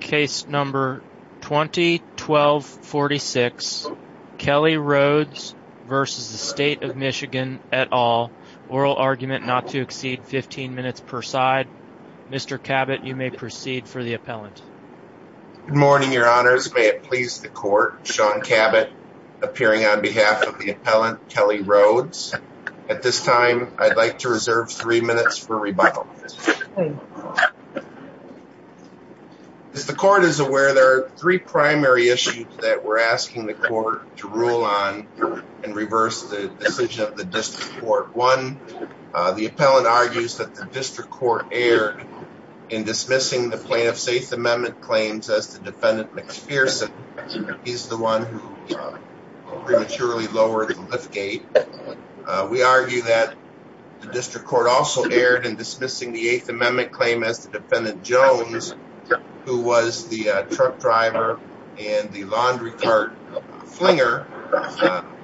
Case number 20-12-46 Kelly Rhodes v. State of Michigan et al. Oral argument not to exceed 15 minutes per side. Mr. Cabot, you may proceed for the appellant. Good morning, your honors. May it please the court, Sean Cabot appearing on behalf of the appellant Kelly Rhodes. At this time, I'd like to reserve three minutes for rebuttal. As the court is aware, there are three primary issues that we're asking the court to rule on and reverse the decision of the district court. One, the appellant argues that the district court erred in dismissing the plaintiff's eighth amendment claims as the defendant McPherson. He's the one who prematurely lowered the lift gate. We argue that the district court also erred in dismissing the eighth amendment claim as the defendant Jones who was the truck driver and the laundry cart flinger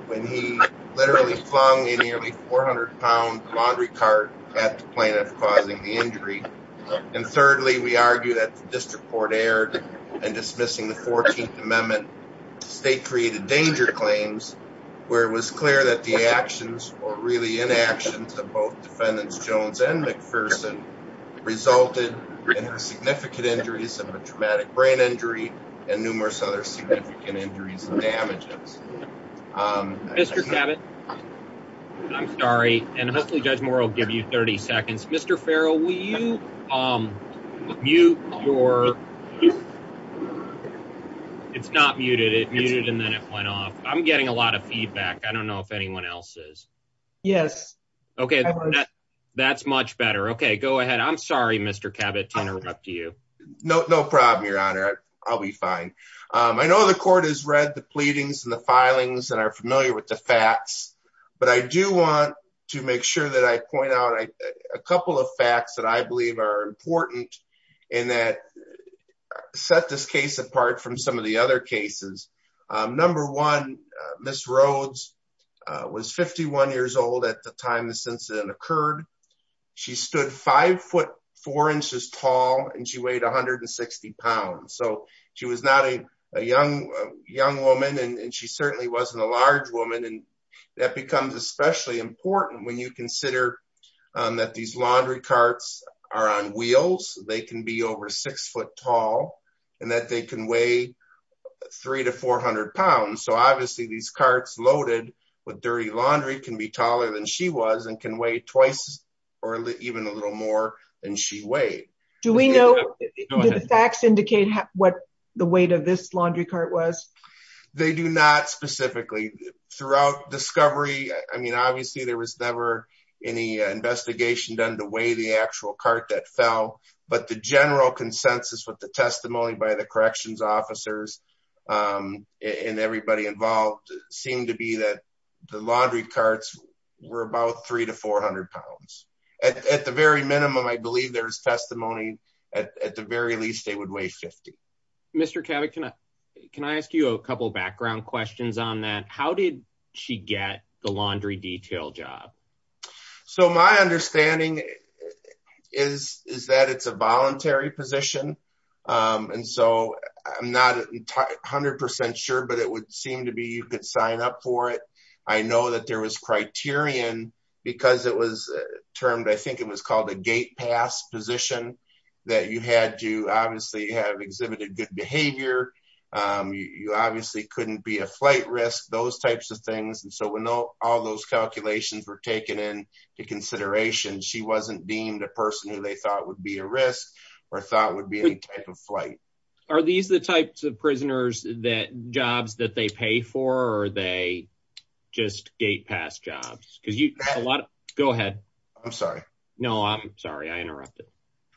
when he literally flung a nearly 400 pound laundry cart at the plaintiff causing the injury. And thirdly, we argue that the district court erred in dismissing the 14th amendment state created danger claims where it was clear that the actions were really inaction to both defendants Jones and McPherson resulted in significant injuries of a traumatic brain injury and numerous other significant injuries and damages. Mr. Cabot, I'm sorry, and hopefully Judge Moore will give you 30 seconds. Mr. Farrell, will you mute your... It's not muted. It muted and then it went off. I'm getting a lot of feedback. I don't know if Okay, that's much better. Okay, go ahead. I'm sorry, Mr. Cabot to interrupt you. No problem, your honor. I'll be fine. I know the court has read the pleadings and the filings and are familiar with the facts. But I do want to make sure that I point out a couple of facts that I believe are important in that set this case apart from some of the other cases. Number one, Miss Rhodes was 51 years old at the time this incident occurred. She stood five foot four inches tall and she weighed 160 pounds. So she was not a young woman and she certainly wasn't a large woman. And that becomes especially important when you consider that these laundry carts are on wheels, they can be over six foot tall, and that they can weigh three to 400 pounds. So obviously, these carts loaded with dirty laundry can be taller than she was and can weigh twice or even a little more than she weighed. Do we know the facts indicate what the weight of this laundry cart was? They do not specifically throughout discovery. I mean, obviously, there was never any investigation done to weigh the actual cart that fell. But the general consensus with the testimony by the corrections officers, and everybody involved seemed to be that the laundry carts were about three to 400 pounds. At the very minimum, I believe there's testimony. At the very least, they would weigh 50. Mr. Kavik, can I can I ask you a couple background questions on that? How did she get the laundry detail job? So my understanding is, is that it's a voluntary position. And so I'm not 100% sure, but it would seem to be you could sign up for it. I know that there was criterion, because it was termed, I think it was called a gate pass position, that you had to obviously have exhibited good behavior. You obviously couldn't be a flight risk, those types of things. And so we know all those calculations were taken into consideration. She wasn't deemed a person who they thought would be a risk, or thought would be a type of flight. Are these the types of prisoners that jobs that they pay for? Or are they just gate pass jobs? Because you a lot of go ahead. I'm sorry. No, I'm sorry. I interrupted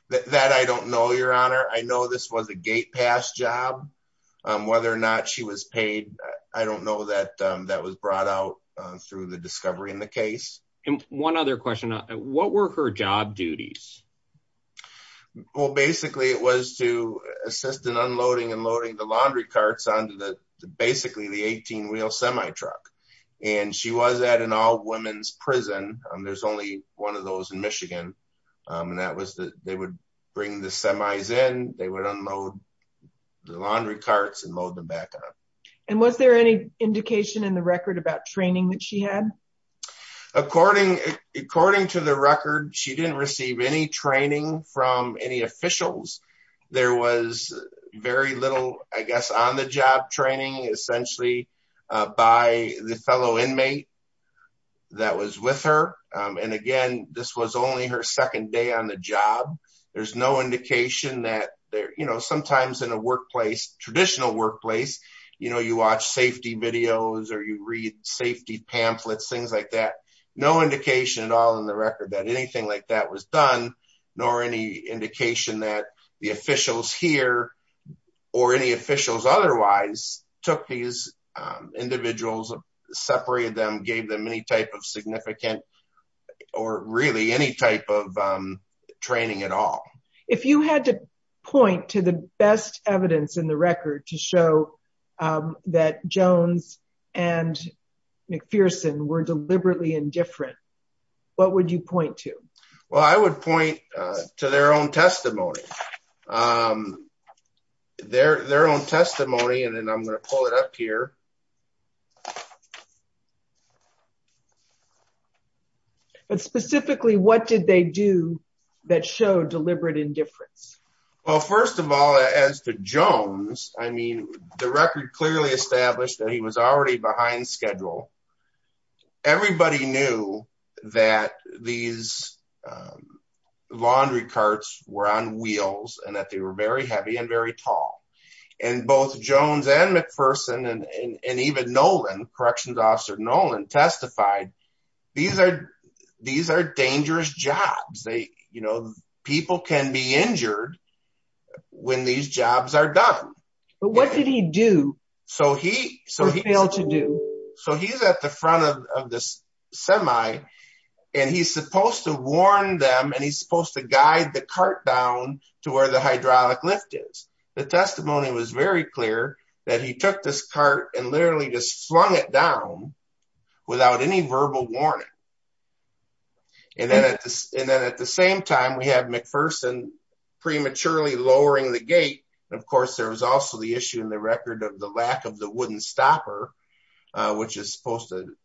that. I don't know, Your Honor. I know this was a gate pass job. Whether or not she was paid, I don't know that that was brought out through the discovery in the case. And one other question, what were her job duties? Well, basically, it was to assist in unloading and loading the laundry carts onto the basically the 18 wheel semi truck. And she was at an all women's prison. And there's only one of those in Michigan. And that was that they would bring the semis in, they would unload the laundry carts and load them back up. And was there any indication in the record about training that she had? According, according to the record, she didn't receive any training from any officials. There was very little, I guess, on the job training, essentially, by the fellow inmate that was with her. And again, this was only her second day on the job. There's no indication that there, you know, sometimes in a workplace, traditional workplace, you know, you watch safety videos, or you read safety pamphlets, things like that. No indication at all in the record that anything like that was done, nor any indication that the officials here, or any officials otherwise took these individuals, separated them, gave them any type of significant, or really any type of training at all. If you had to point to the best evidence in the record to show that Jones and McPherson were deliberately indifferent, what would you point to? Well, I would point to their own testimony. Their own testimony, and then I'm going to pull it up here. But specifically, what did they do that showed deliberate indifference? Well, first of all, as to Jones, I mean, the record clearly established that he was already behind schedule. Everybody knew that these laundry carts were on wheels, and that they were very heavy and very tall. And both Jones and McPherson, and even Nolan, Corrections Officer Nolan, testified, these are dangerous jobs. They, you know, people can be injured when these jobs are done. But what did he do? So he, so he failed to do, so he's at the front of this semi, and he's supposed to warn them, and he's supposed to guide the cart down to where the hydraulic lift is. The testimony was very clear that he took this cart and literally just slung it down without any verbal warning. And then at this, and then at the same time, we have McPherson prematurely lowering the gate. Of course, there was also the issue in the record of the lack of the wooden stopper, which is supposed to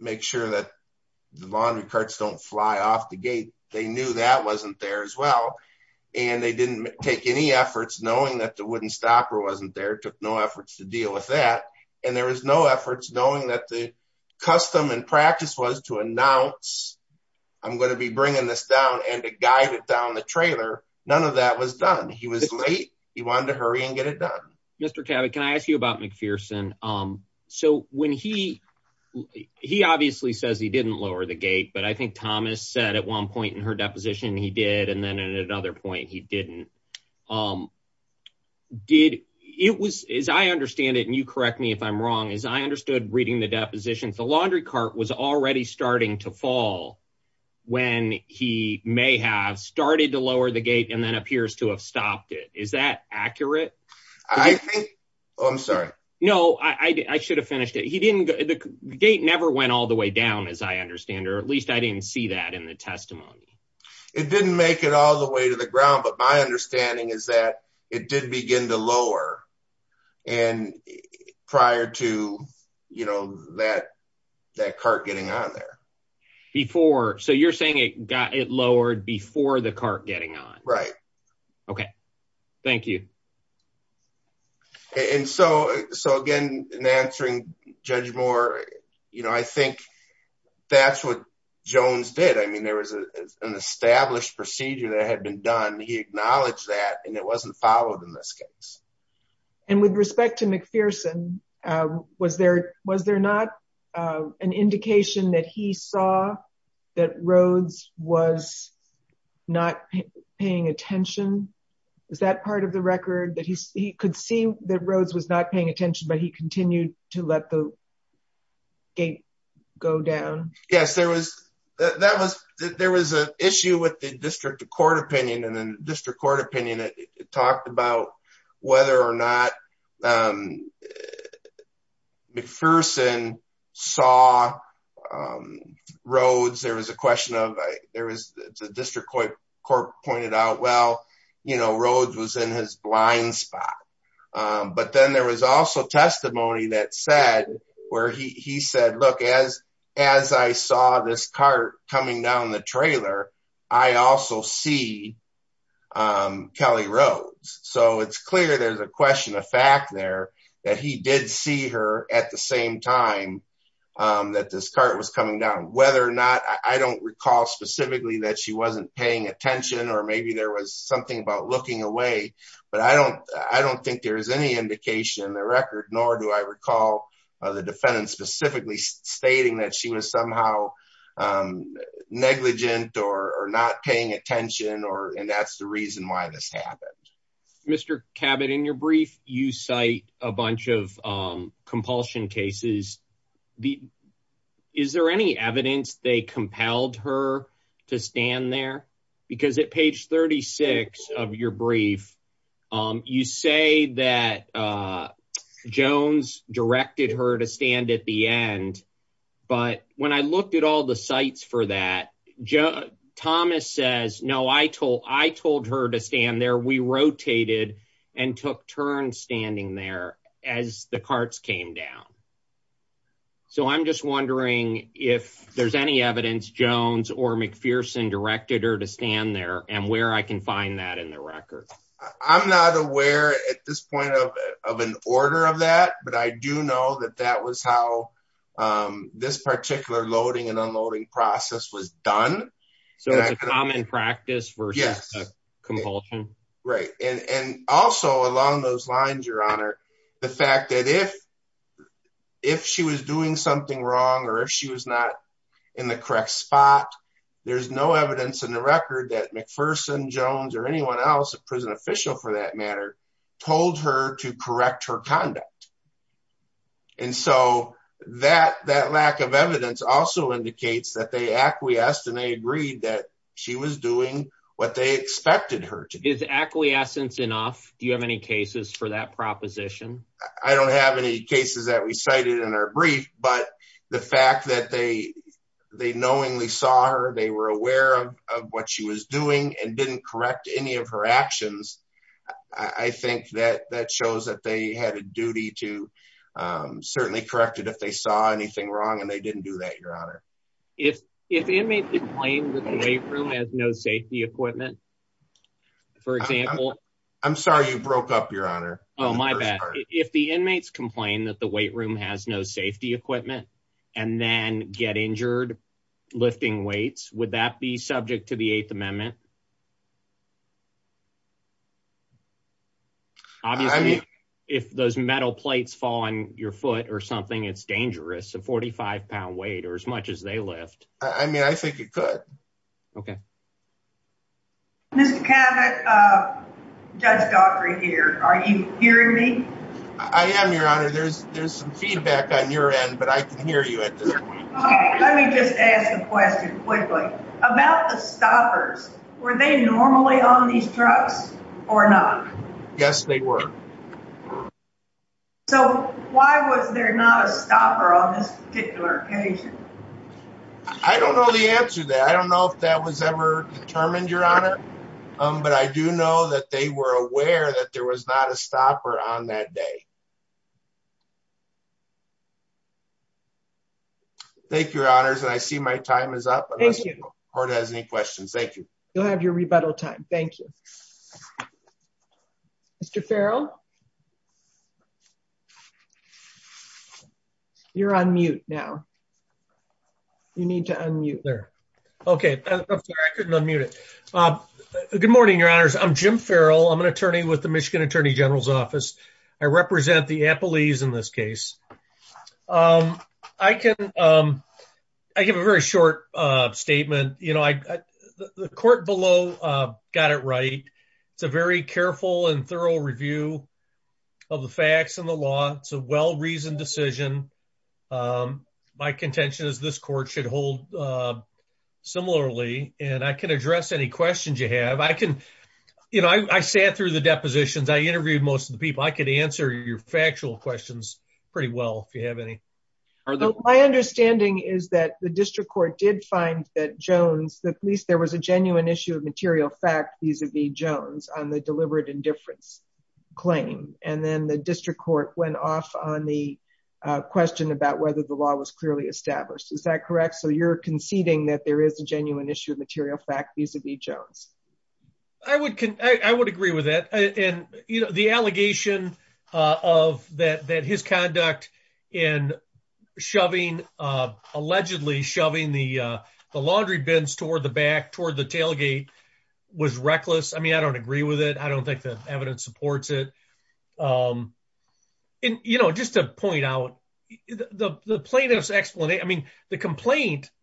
make sure that the laundry carts don't fly off the gate. They knew that wasn't there as well. And they didn't take any efforts knowing that the wooden stopper wasn't there, took no efforts to deal with that. And there was no efforts knowing that the custom and practice was to announce, I'm going to be bringing this down and to guide it down the he wanted to hurry and get it done. Mr. Tabby, can I ask you about McPherson? So when he, he obviously says he didn't lower the gate, but I think Thomas said at one point in her deposition, he did. And then at another point, he didn't. Did it was, as I understand it, and you correct me if I'm wrong, as I understood reading the depositions, the laundry cart was already starting to fall when he may have started to lower the gate and then appears to have stopped it. Is that accurate? I think, oh, I'm sorry. No, I should have finished it. He didn't, the gate never went all the way down, as I understand, or at least I didn't see that in the testimony. It didn't make it all the way to the ground. But my understanding is that it did begin to lower. And prior to, you know, that, that cart getting on there. Before, so you're saying it got, it lowered before the cart getting on. Right. Okay. Thank you. And so, so again, in answering Judge Moore, you know, I think that's what Jones did. I mean, there was an established procedure that had been done. He acknowledged that, and it wasn't followed in this case. And with respect to McPherson, was there, was there not an indication that he saw that Rhodes was not paying attention? Is that part of the record that he could see that Rhodes was not paying attention, but he continued to let the gate go down? Yes, there was, that was, there was an issue with the district court opinion, and then district court opinion, it talked about whether or not McPherson saw Rhodes, there was a question of, there was the district court pointed out, well, you know, Rhodes was in his blind spot. But then there was also testimony that said, where he said, look, as, as I saw this cart coming down the trailer, I also see Kelly Rhodes. So it's clear there's a question of fact there, that he did see her at the same time that this cart was coming down, whether or not, I don't recall specifically that she wasn't paying attention, or maybe there was something about looking away. But I don't, I don't think there is any indication in the record, nor do I recall the defendant specifically stating that she was somehow negligent or not paying attention, or, and that's the reason why this happened. Mr. Cabot, in your brief, you cite a bunch of compulsion cases, is there any evidence they compelled her to stand there? Because at page 36 of your brief, you say that Jones directed her to stand at the end. But when I looked at all the sites for that, Thomas says, no, I told, I told her to stand there, we rotated and took turns standing there as the carts came down. So I'm just wondering if there's any evidence Jones or McPherson directed her to stand there, and where I can find that in the record. I'm not aware at this point of an order of that. But I do know that that was how this particular loading and unloading process was done. So it's a common practice versus compulsion? Right. And also along those lines, Your Honor, the fact that if, if she was doing something wrong, or if she was not in the correct spot, there's no evidence in the record that McPherson, Jones or anyone else, a prison official for that matter, told her to correct her conduct. And so that that lack of evidence also indicates that they acquiesced and they agreed that she was doing what they expected her to do. Is acquiescence enough? Do you have any cases for that proposition? I don't have any cases that we cited in our brief. But the fact that they, they knowingly saw her, they were aware of what she was doing and didn't correct any of her actions. I think that that shows that they had a duty to certainly corrected if they saw anything wrong. And they didn't do that, Your Honor. If the inmate complained that the weight room has no safety equipment, for example. I'm sorry, you broke up, Your Honor. Oh, my bad. If the inmates complain that the weight room has no safety equipment, and then get injured, lifting weights, would that be subject to the Eighth Amendment? Obviously, if those metal plates fall on your foot or something, it's dangerous, a 45 pound weight or as much as they lift. Okay. Mr. Cavett, Judge Daugherty here. Are you hearing me? I am, Your Honor. There's some feedback on your end, but I can hear you at this point. Let me just ask a question quickly about the stoppers. Were they normally on these trucks or not? Yes, they were. So why was there not a stopper on this particular occasion? I don't know the answer to that. I don't know if that was ever determined, Your Honor. But I do know that they were aware that there was not a stopper on that day. Thank you, Your Honors. And I see my time is up. Thank you. Court has any questions. Thank you. You'll have your rebuttal time. Thank you. Mr. Farrell. You're on mute now. You need to unmute there. Okay. I couldn't unmute it. Good morning, Your Honors. I'm Jim Farrell. I'm an attorney with the Michigan Attorney General's Office. I represent the appellees in this case. I give a very short statement. The court below got it right. It's a very careful and thorough review of the facts and the law. It's a well-reasoned decision. My contention is this court should hold similarly, and I can address any questions you have. I sat through the depositions. I interviewed most of the people. I could answer your factual questions pretty well if you have any. My understanding is that the district court did find that Jones, that at least there was a genuine issue of material fact vis-a-vis Jones on the on the question about whether the law was clearly established. Is that correct? You're conceding that there is a genuine issue of material fact vis-a-vis Jones. I would agree with that. The allegation that his conduct in shoving, allegedly shoving the laundry bins toward the back, toward the tailgate, was reckless. I don't agree with it. I don't think the evidence supports it. Just to point out, the complaint,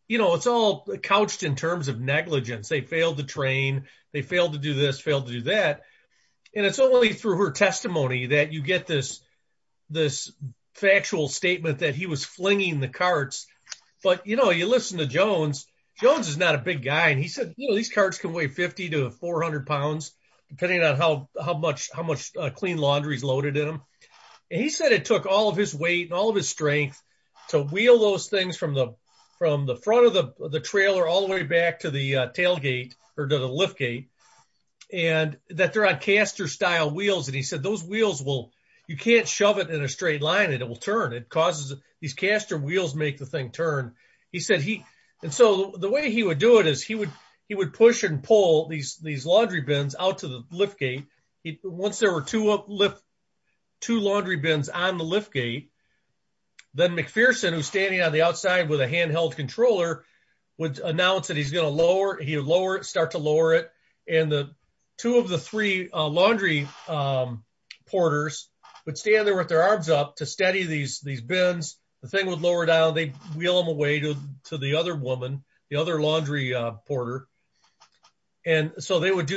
it's all couched in terms of negligence. They failed to train. They failed to do this, failed to do that. It's only through her testimony that you get this factual statement that he was flinging the carts. But you listen to Jones. Jones is not a big guy. He said, these carts can weigh 50 to 400 pounds depending on how much clean laundry is loaded in them. He said it took all of his weight and all of his strength to wheel those things from the front of the trailer all the way back to the tailgate or to the lift gate. That they're on caster style wheels. He said those wheels, you can't shove it in a straight line and it will turn. It causes these caster wheels make the thing turn. The way he would do it is he would push and pull these laundry bins out to the lift gate. Once there were two laundry bins on the lift gate, then McPherson, who's standing on the outside with a handheld controller, would announce that he's going to start to lower it. Two of the three laundry porters would stand there with their arms up to steady these bins. The thing would lower down. They would do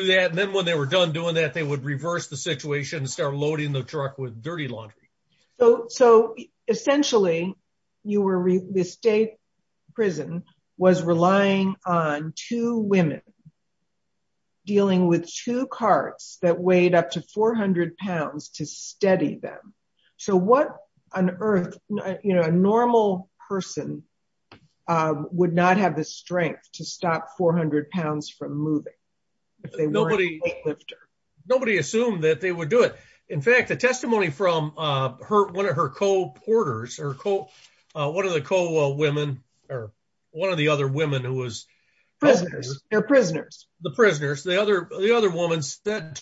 that. Then when they were done doing that, they would reverse the situation and start loading the truck with dirty laundry. Essentially, the state prison was relying on two women dealing with two carts that weighed up to 400 pounds to steady them. A normal person would not have the strength to stop 400 pounds from moving if they weren't a weightlifter. Nobody assumed that they would do it. In fact, the testimony from one of her co-porters or one of the co-women or one of the other women who was... Prisoners. They're prisoners. The prisoners. The other woman said,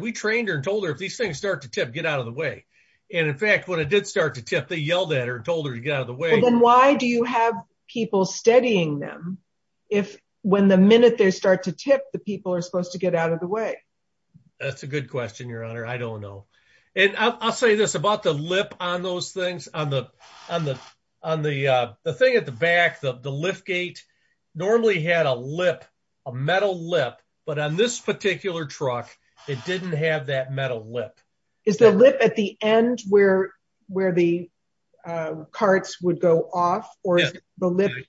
we trained her and told her if these things start to tip, get out of the way. In fact, when it did start to tip, they yelled at her and told her to get out of the way. Then why do you have people steadying them if when the minute they start to tip, the people are supposed to get out of the way? That's a good question, Your Honor. I don't know. I'll say this about the lip on those things. On the thing at the back, the lift gate, normally had a lip, a metal lip, but on this particular truck, it didn't have that metal lip. Is the lip at the end where the carts would go off? It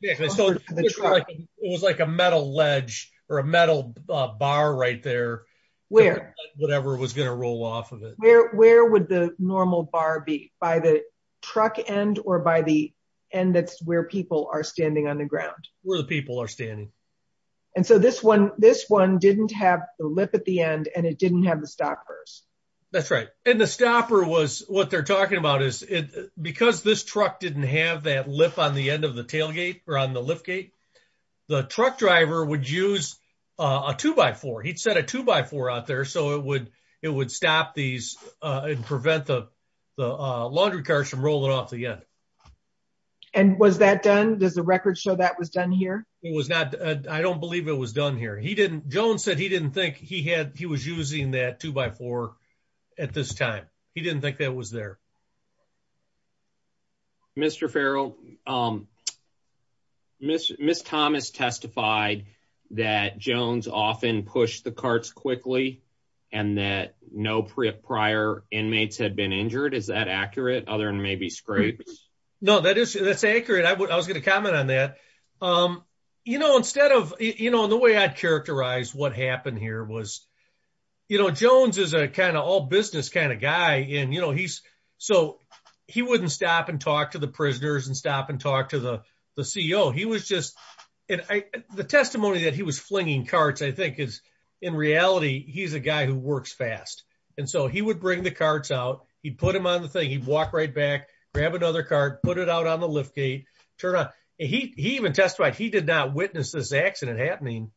was like a metal ledge or a metal bar right there, whatever was going to roll off of it. Where would the normal bar be? By the truck end or by the end that's where people are standing on the ground? Where the people are standing. This one didn't have the lip at the end and it the stopper was what they're talking about. Because this truck didn't have that lip on the end of the tailgate or on the lift gate, the truck driver would use a two-by-four. He'd set a two-by-four out there so it would stop these and prevent the laundry cars from rolling off again. Was that done? Does the record show that was done here? I don't believe it was done here. Jones said he didn't think he was using that two-by-four at this time. He didn't think that was there. Mr. Farrell, Ms. Thomas testified that Jones often pushed the carts quickly and that no prior inmates had been injured. Is that accurate other than maybe scrapes? No, that is that's accurate. I was going to comment on that. The way I'd characterize what happened here was Jones is a kind of all business kind of guy. He wouldn't stop and talk to the prisoners and stop and talk to the CEO. The testimony that he was flinging carts I think is in reality he's a guy who works fast. He would bring the carts out, he'd put them on the thing, walk right back, grab another cart, put it out on the lift gate, turn on. He even testified he did not witness this accident happening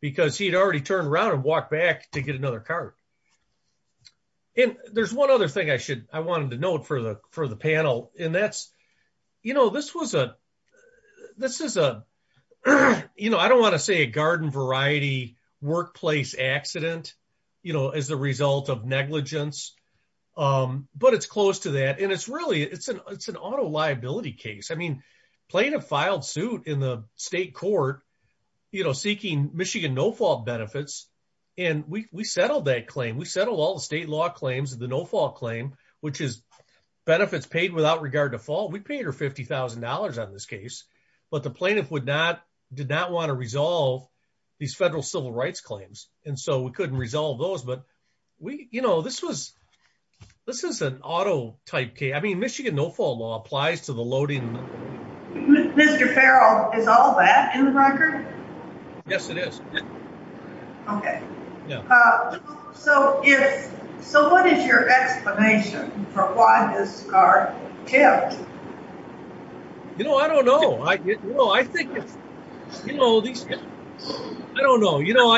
because he'd already turned around and walked back to get another cart. There's one other thing I wanted to note for the panel. I don't want to say a it's an auto liability case. Plaintiff filed suit in the state court seeking Michigan no-fault benefits and we settled that claim. We settled all the state law claims of the no-fault claim which is benefits paid without regard to fault. We paid her $50,000 on this case but the plaintiff did not want to resolve these federal civil rights claims and so we couldn't resolve those. We you know this was this is an auto type case. I mean Michigan no-fault law applies to the loading. Mr. Farrell is all that in the record? Yes it is. Okay yeah so if so what is your explanation for why this car tipped? You know I don't know. I think it's you know these I don't know you know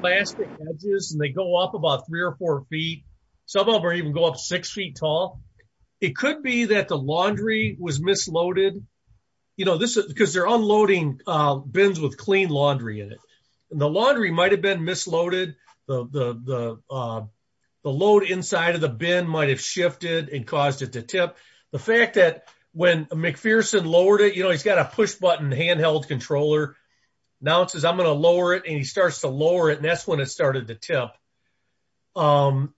plastic edges and they go up about three or four feet. Some of them even go up six feet tall. It could be that the laundry was misloaded. You know this because they're unloading bins with clean laundry in it and the laundry might have been misloaded. The load inside of the bin might have shifted and caused it to tip. The fact that when McPherson lowered it you know he's got a push button handheld controller. Now it says I'm going to lower it and he starts to lower it and that's when it started to tip.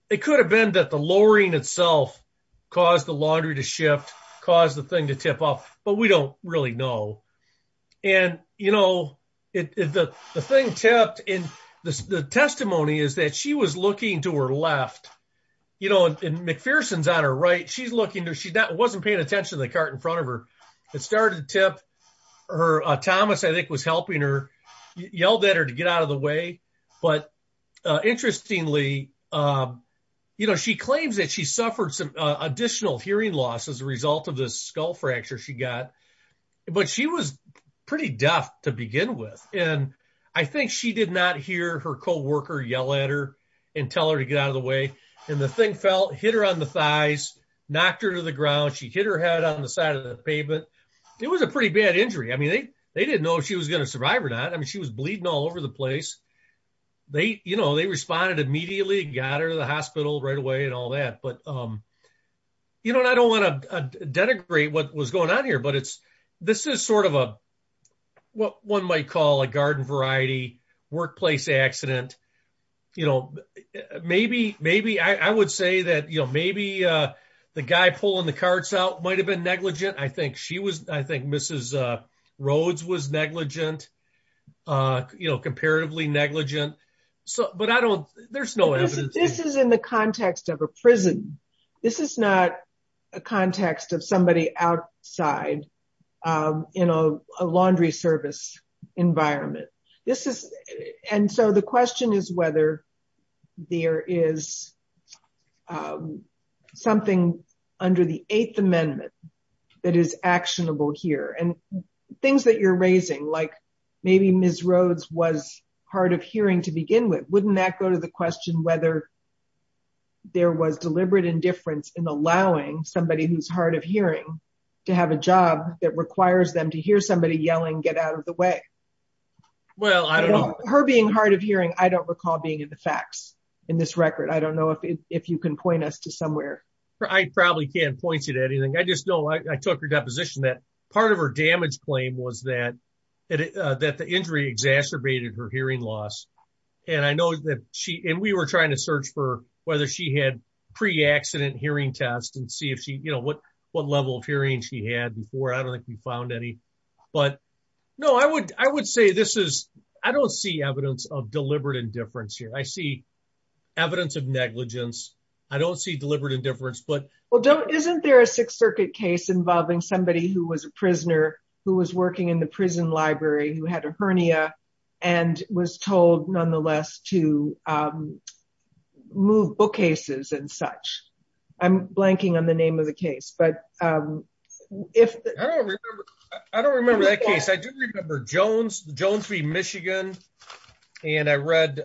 It could have been that the lowering itself caused the laundry to shift, caused the thing to tip off, but we don't really know. And you know the thing tipped and the testimony is that she was looking to her left you know and McPherson's on her right. She's wasn't paying attention to the cart in front of her. It started to tip. Thomas I think was helping her. He yelled at her to get out of the way. But interestingly you know she claims that she suffered some additional hearing loss as a result of this skull fracture she got. But she was pretty deaf to begin with and I think she did not hear her co-worker yell at her and tell her to get out of the way. And the thing fell, hit her on the thighs, knocked her to the ground. She hit her head on the side of the pavement. It was a pretty bad injury. I mean they they didn't know if she was going to survive or not. I mean she was bleeding all over the place. They you know they responded immediately. Got her to the hospital right away and all that. But you know I don't want to denigrate what was going on here but it's this is sort of a what one might call a garden variety workplace accident. You know maybe maybe I would say that you know maybe the guy pulling the carts out might have been negligent. I think she was I think Mrs. Rhodes was negligent. You know comparatively negligent. So but I don't there's no evidence. This is in the context of a prison. This is not a context of somebody outside in a laundry service environment. This is and so the question is whether there is something under the Eighth Amendment that is actionable here. And things that you're raising like maybe Ms. Rhodes was hard of hearing to begin with. Wouldn't that go to the question whether there was deliberate indifference in allowing somebody who's hard of hearing to have a job that requires them to hear somebody yelling get out of the way? Well I don't know. Her being hard of hearing I don't recall being in the facts in this record. I don't know if you can point us to somewhere. I probably can't point you to anything. I just know I took your deposition that part of her damage claim was that that the injury exacerbated her hearing loss. And I know that she and we were trying to search for whether she had pre-accident hearing tests and see if she you found any. But no I would I would say this is I don't see evidence of deliberate indifference here. I see evidence of negligence. I don't see deliberate indifference but well don't isn't there a Sixth Circuit case involving somebody who was a prisoner who was working in the prison library who had a hernia and was told nonetheless to move bookcases and such. I'm blanking on the I don't remember that case. I do remember Jones v. Michigan and I read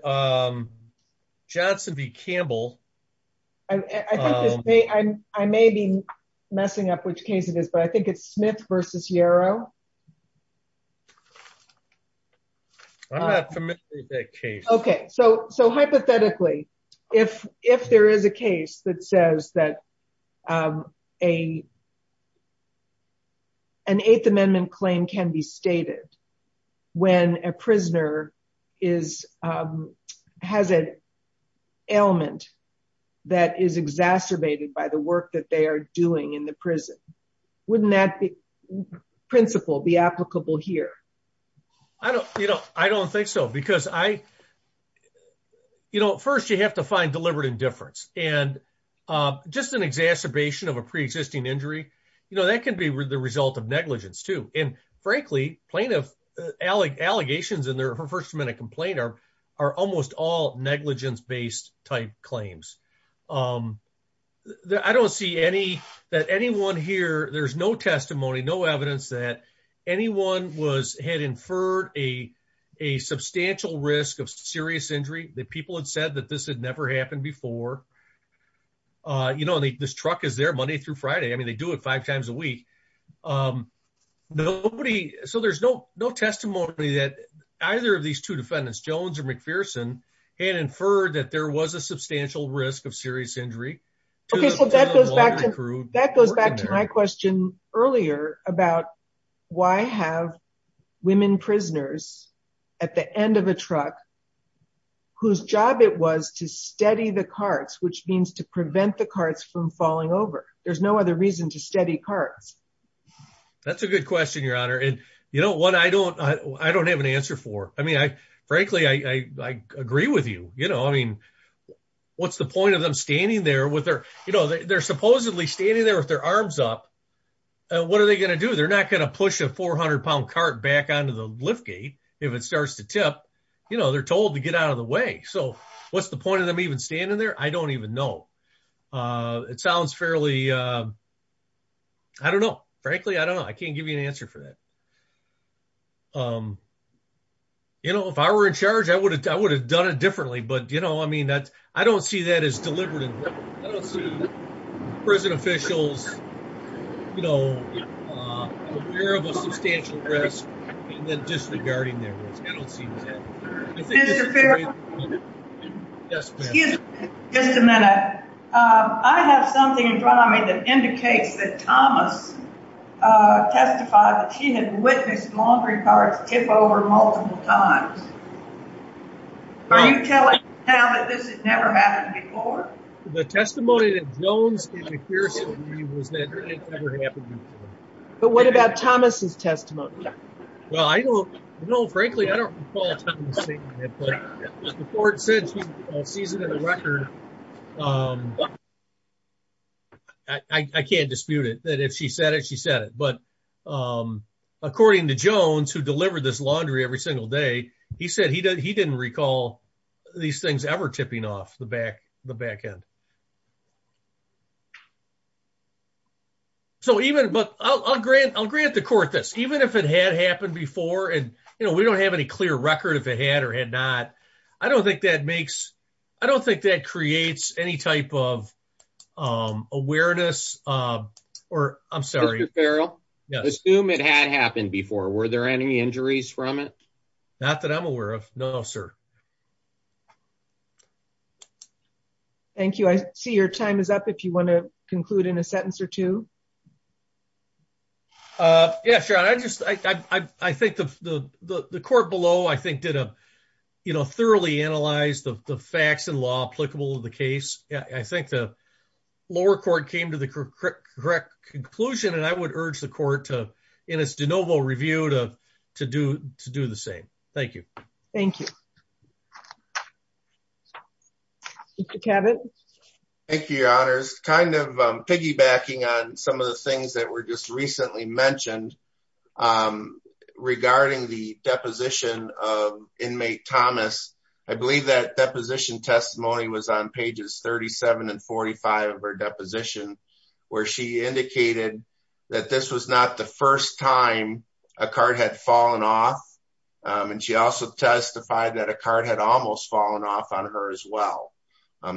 Johnson v. Campbell. I may be messing up which case it is but I think it's Smith versus Yarrow. I'm not familiar with that case. Okay so hypothetically if there is a case that says that an Eighth Amendment claim can be stated when a prisoner is has an ailment that is exacerbated by the work that they are doing in the prison. Wouldn't that principle be applicable here? I don't you know I don't think so because I you know first you have to find deliberate indifference and just an exacerbation of a pre-existing injury you know that can be the result of negligence too and frankly plaintiff allegations in their first amendment complaint are almost all negligence-based type claims. I don't see any that anyone here there's no testimony no evidence that anyone was had inferred a substantial risk of serious injury that people had said that this had never happened before. You know this truck is there Monday through Friday. I mean they do it five times a week. Nobody so there's no no testimony that either of these two defendants Jones or McPherson had inferred that there was a substantial risk of serious injury. Okay so that goes back to that goes back to my question earlier about why have women prisoners at the end of a truck whose job it was to steady the carts which means to prevent the carts from falling over. There's no other reason to steady carts. That's a good question your honor and you know what I don't I don't have an answer for. I mean I frankly I agree with you you know I mean what's the point of them standing there with their you know they're supposedly standing there with their arms up and what are they going to do? They're not going to push a 400 pound cart back onto the lift gate if it starts to tip. You know they're told to get out of the way so what's the point of them even standing there? I don't even know. It sounds fairly I don't know frankly I don't know I can't give you an answer for that. You know if I were in charge I would have I would have done it differently but you know I mean that I don't see that as deliberate. I don't see prison officials you know aware of a substantial risk and then disregarding their risk. I don't see that. Excuse me just a minute. I have something in front of me that indicates that Thomas testified that she had witnessed laundry carts tip over multiple times. Are you telling me now that this has never happened before? The testimony that Jones gave to Pearson was that it never happened before. But what about Thomas's testimony? Well I don't know frankly I don't recall Thomas saying it but the court said she sees it in the record. I can't dispute it that if she said it she said it but according to Jones who delivered this laundry every single day he said he didn't recall these things ever tipping off the back the back end. So even but I'll grant the court this even if it had happened before and you know we don't have any clear record if it had or had not I don't think that makes I don't think that creates any type of awareness or I'm sorry. Mr. Farrell assume it had happened before were there any injuries from it? Not that I'm aware of no sir. Thank you I see your time is up if you want to conclude in a sentence or two. Yeah sure I just I think the court below I think did a you know thoroughly analyze the facts and law applicable to the case. I think the lower court came to the correct conclusion and I would urge the court to in its de novo review to to do the same. Thank you. Thank you. Mr. Cabot. Thank you your honors kind of piggybacking on some of the things that were just recently mentioned regarding the deposition of inmate Thomas. I believe that deposition testimony was on pages 37 and 45 of her deposition where she indicated that this was not the first time a card had fallen off and she also testified that a card had almost fallen off on her as well.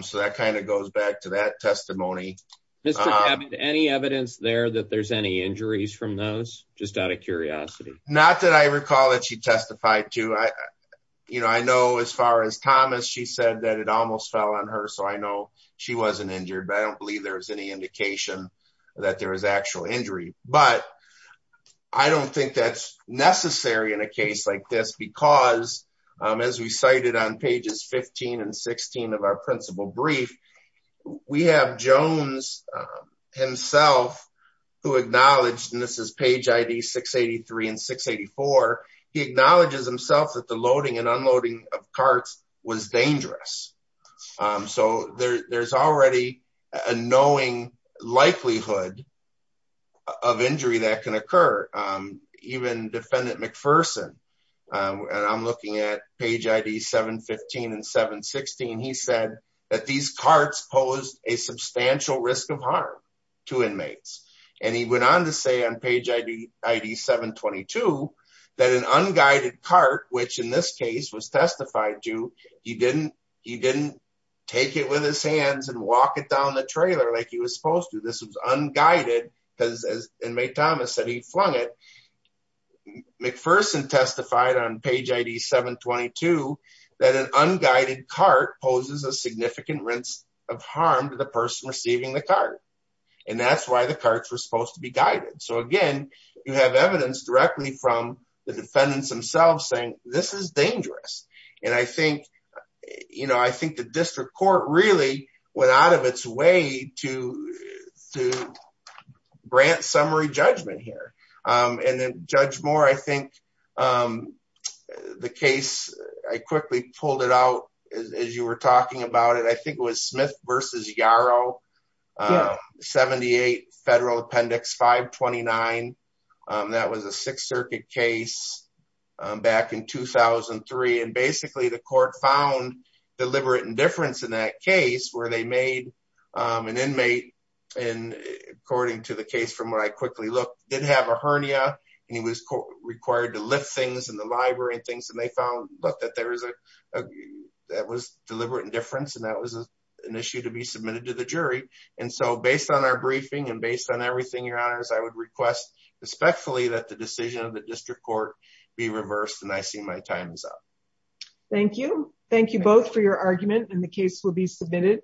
So that kind of goes back to that testimony. Any evidence there that there's any injuries from those just out of curiosity? Not that I recall that she testified to I you know I know as far as Thomas she said that it almost fell on her so I she wasn't injured but I don't believe there's any indication that there was actual injury but I don't think that's necessary in a case like this because as we cited on pages 15 and 16 of our principal brief we have Jones himself who acknowledged and this is page id 683 and 684 he acknowledges himself that the loading and unloading of carts was dangerous. So there's already a knowing likelihood of injury that can occur. Even defendant McPherson and I'm looking at page id 715 and 716 he said that these carts posed a substantial risk of harm to inmates and went on to say on page id 722 that an unguided cart which in this case was testified to he didn't take it with his hands and walk it down the trailer like he was supposed to. This was unguided because as inmate Thomas said he flung it. McPherson testified on page id 722 that an unguided cart poses a significant risk of harm to the person receiving the cart and that's why carts were supposed to be guided. So again you have evidence directly from the defendants themselves saying this is dangerous and I think you know I think the district court really went out of its way to to grant summary judgment here and then judge Moore I think the case I quickly pulled it out as you were talking about it I think it was Smith versus Yarrow 78 federal appendix 529 that was a sixth circuit case back in 2003 and basically the court found deliberate indifference in that case where they made an inmate and according to the case from where I quickly looked did have a hernia and he was required to lift things in the library and things and they found look that there was a that was deliberate indifference and that was an issue to be submitted to the jury and so based on our briefing and based on everything your honors I would request respectfully that the decision of the district court be reversed and I see my time is up. Thank you. Thank you both for your argument and the case will be submitted.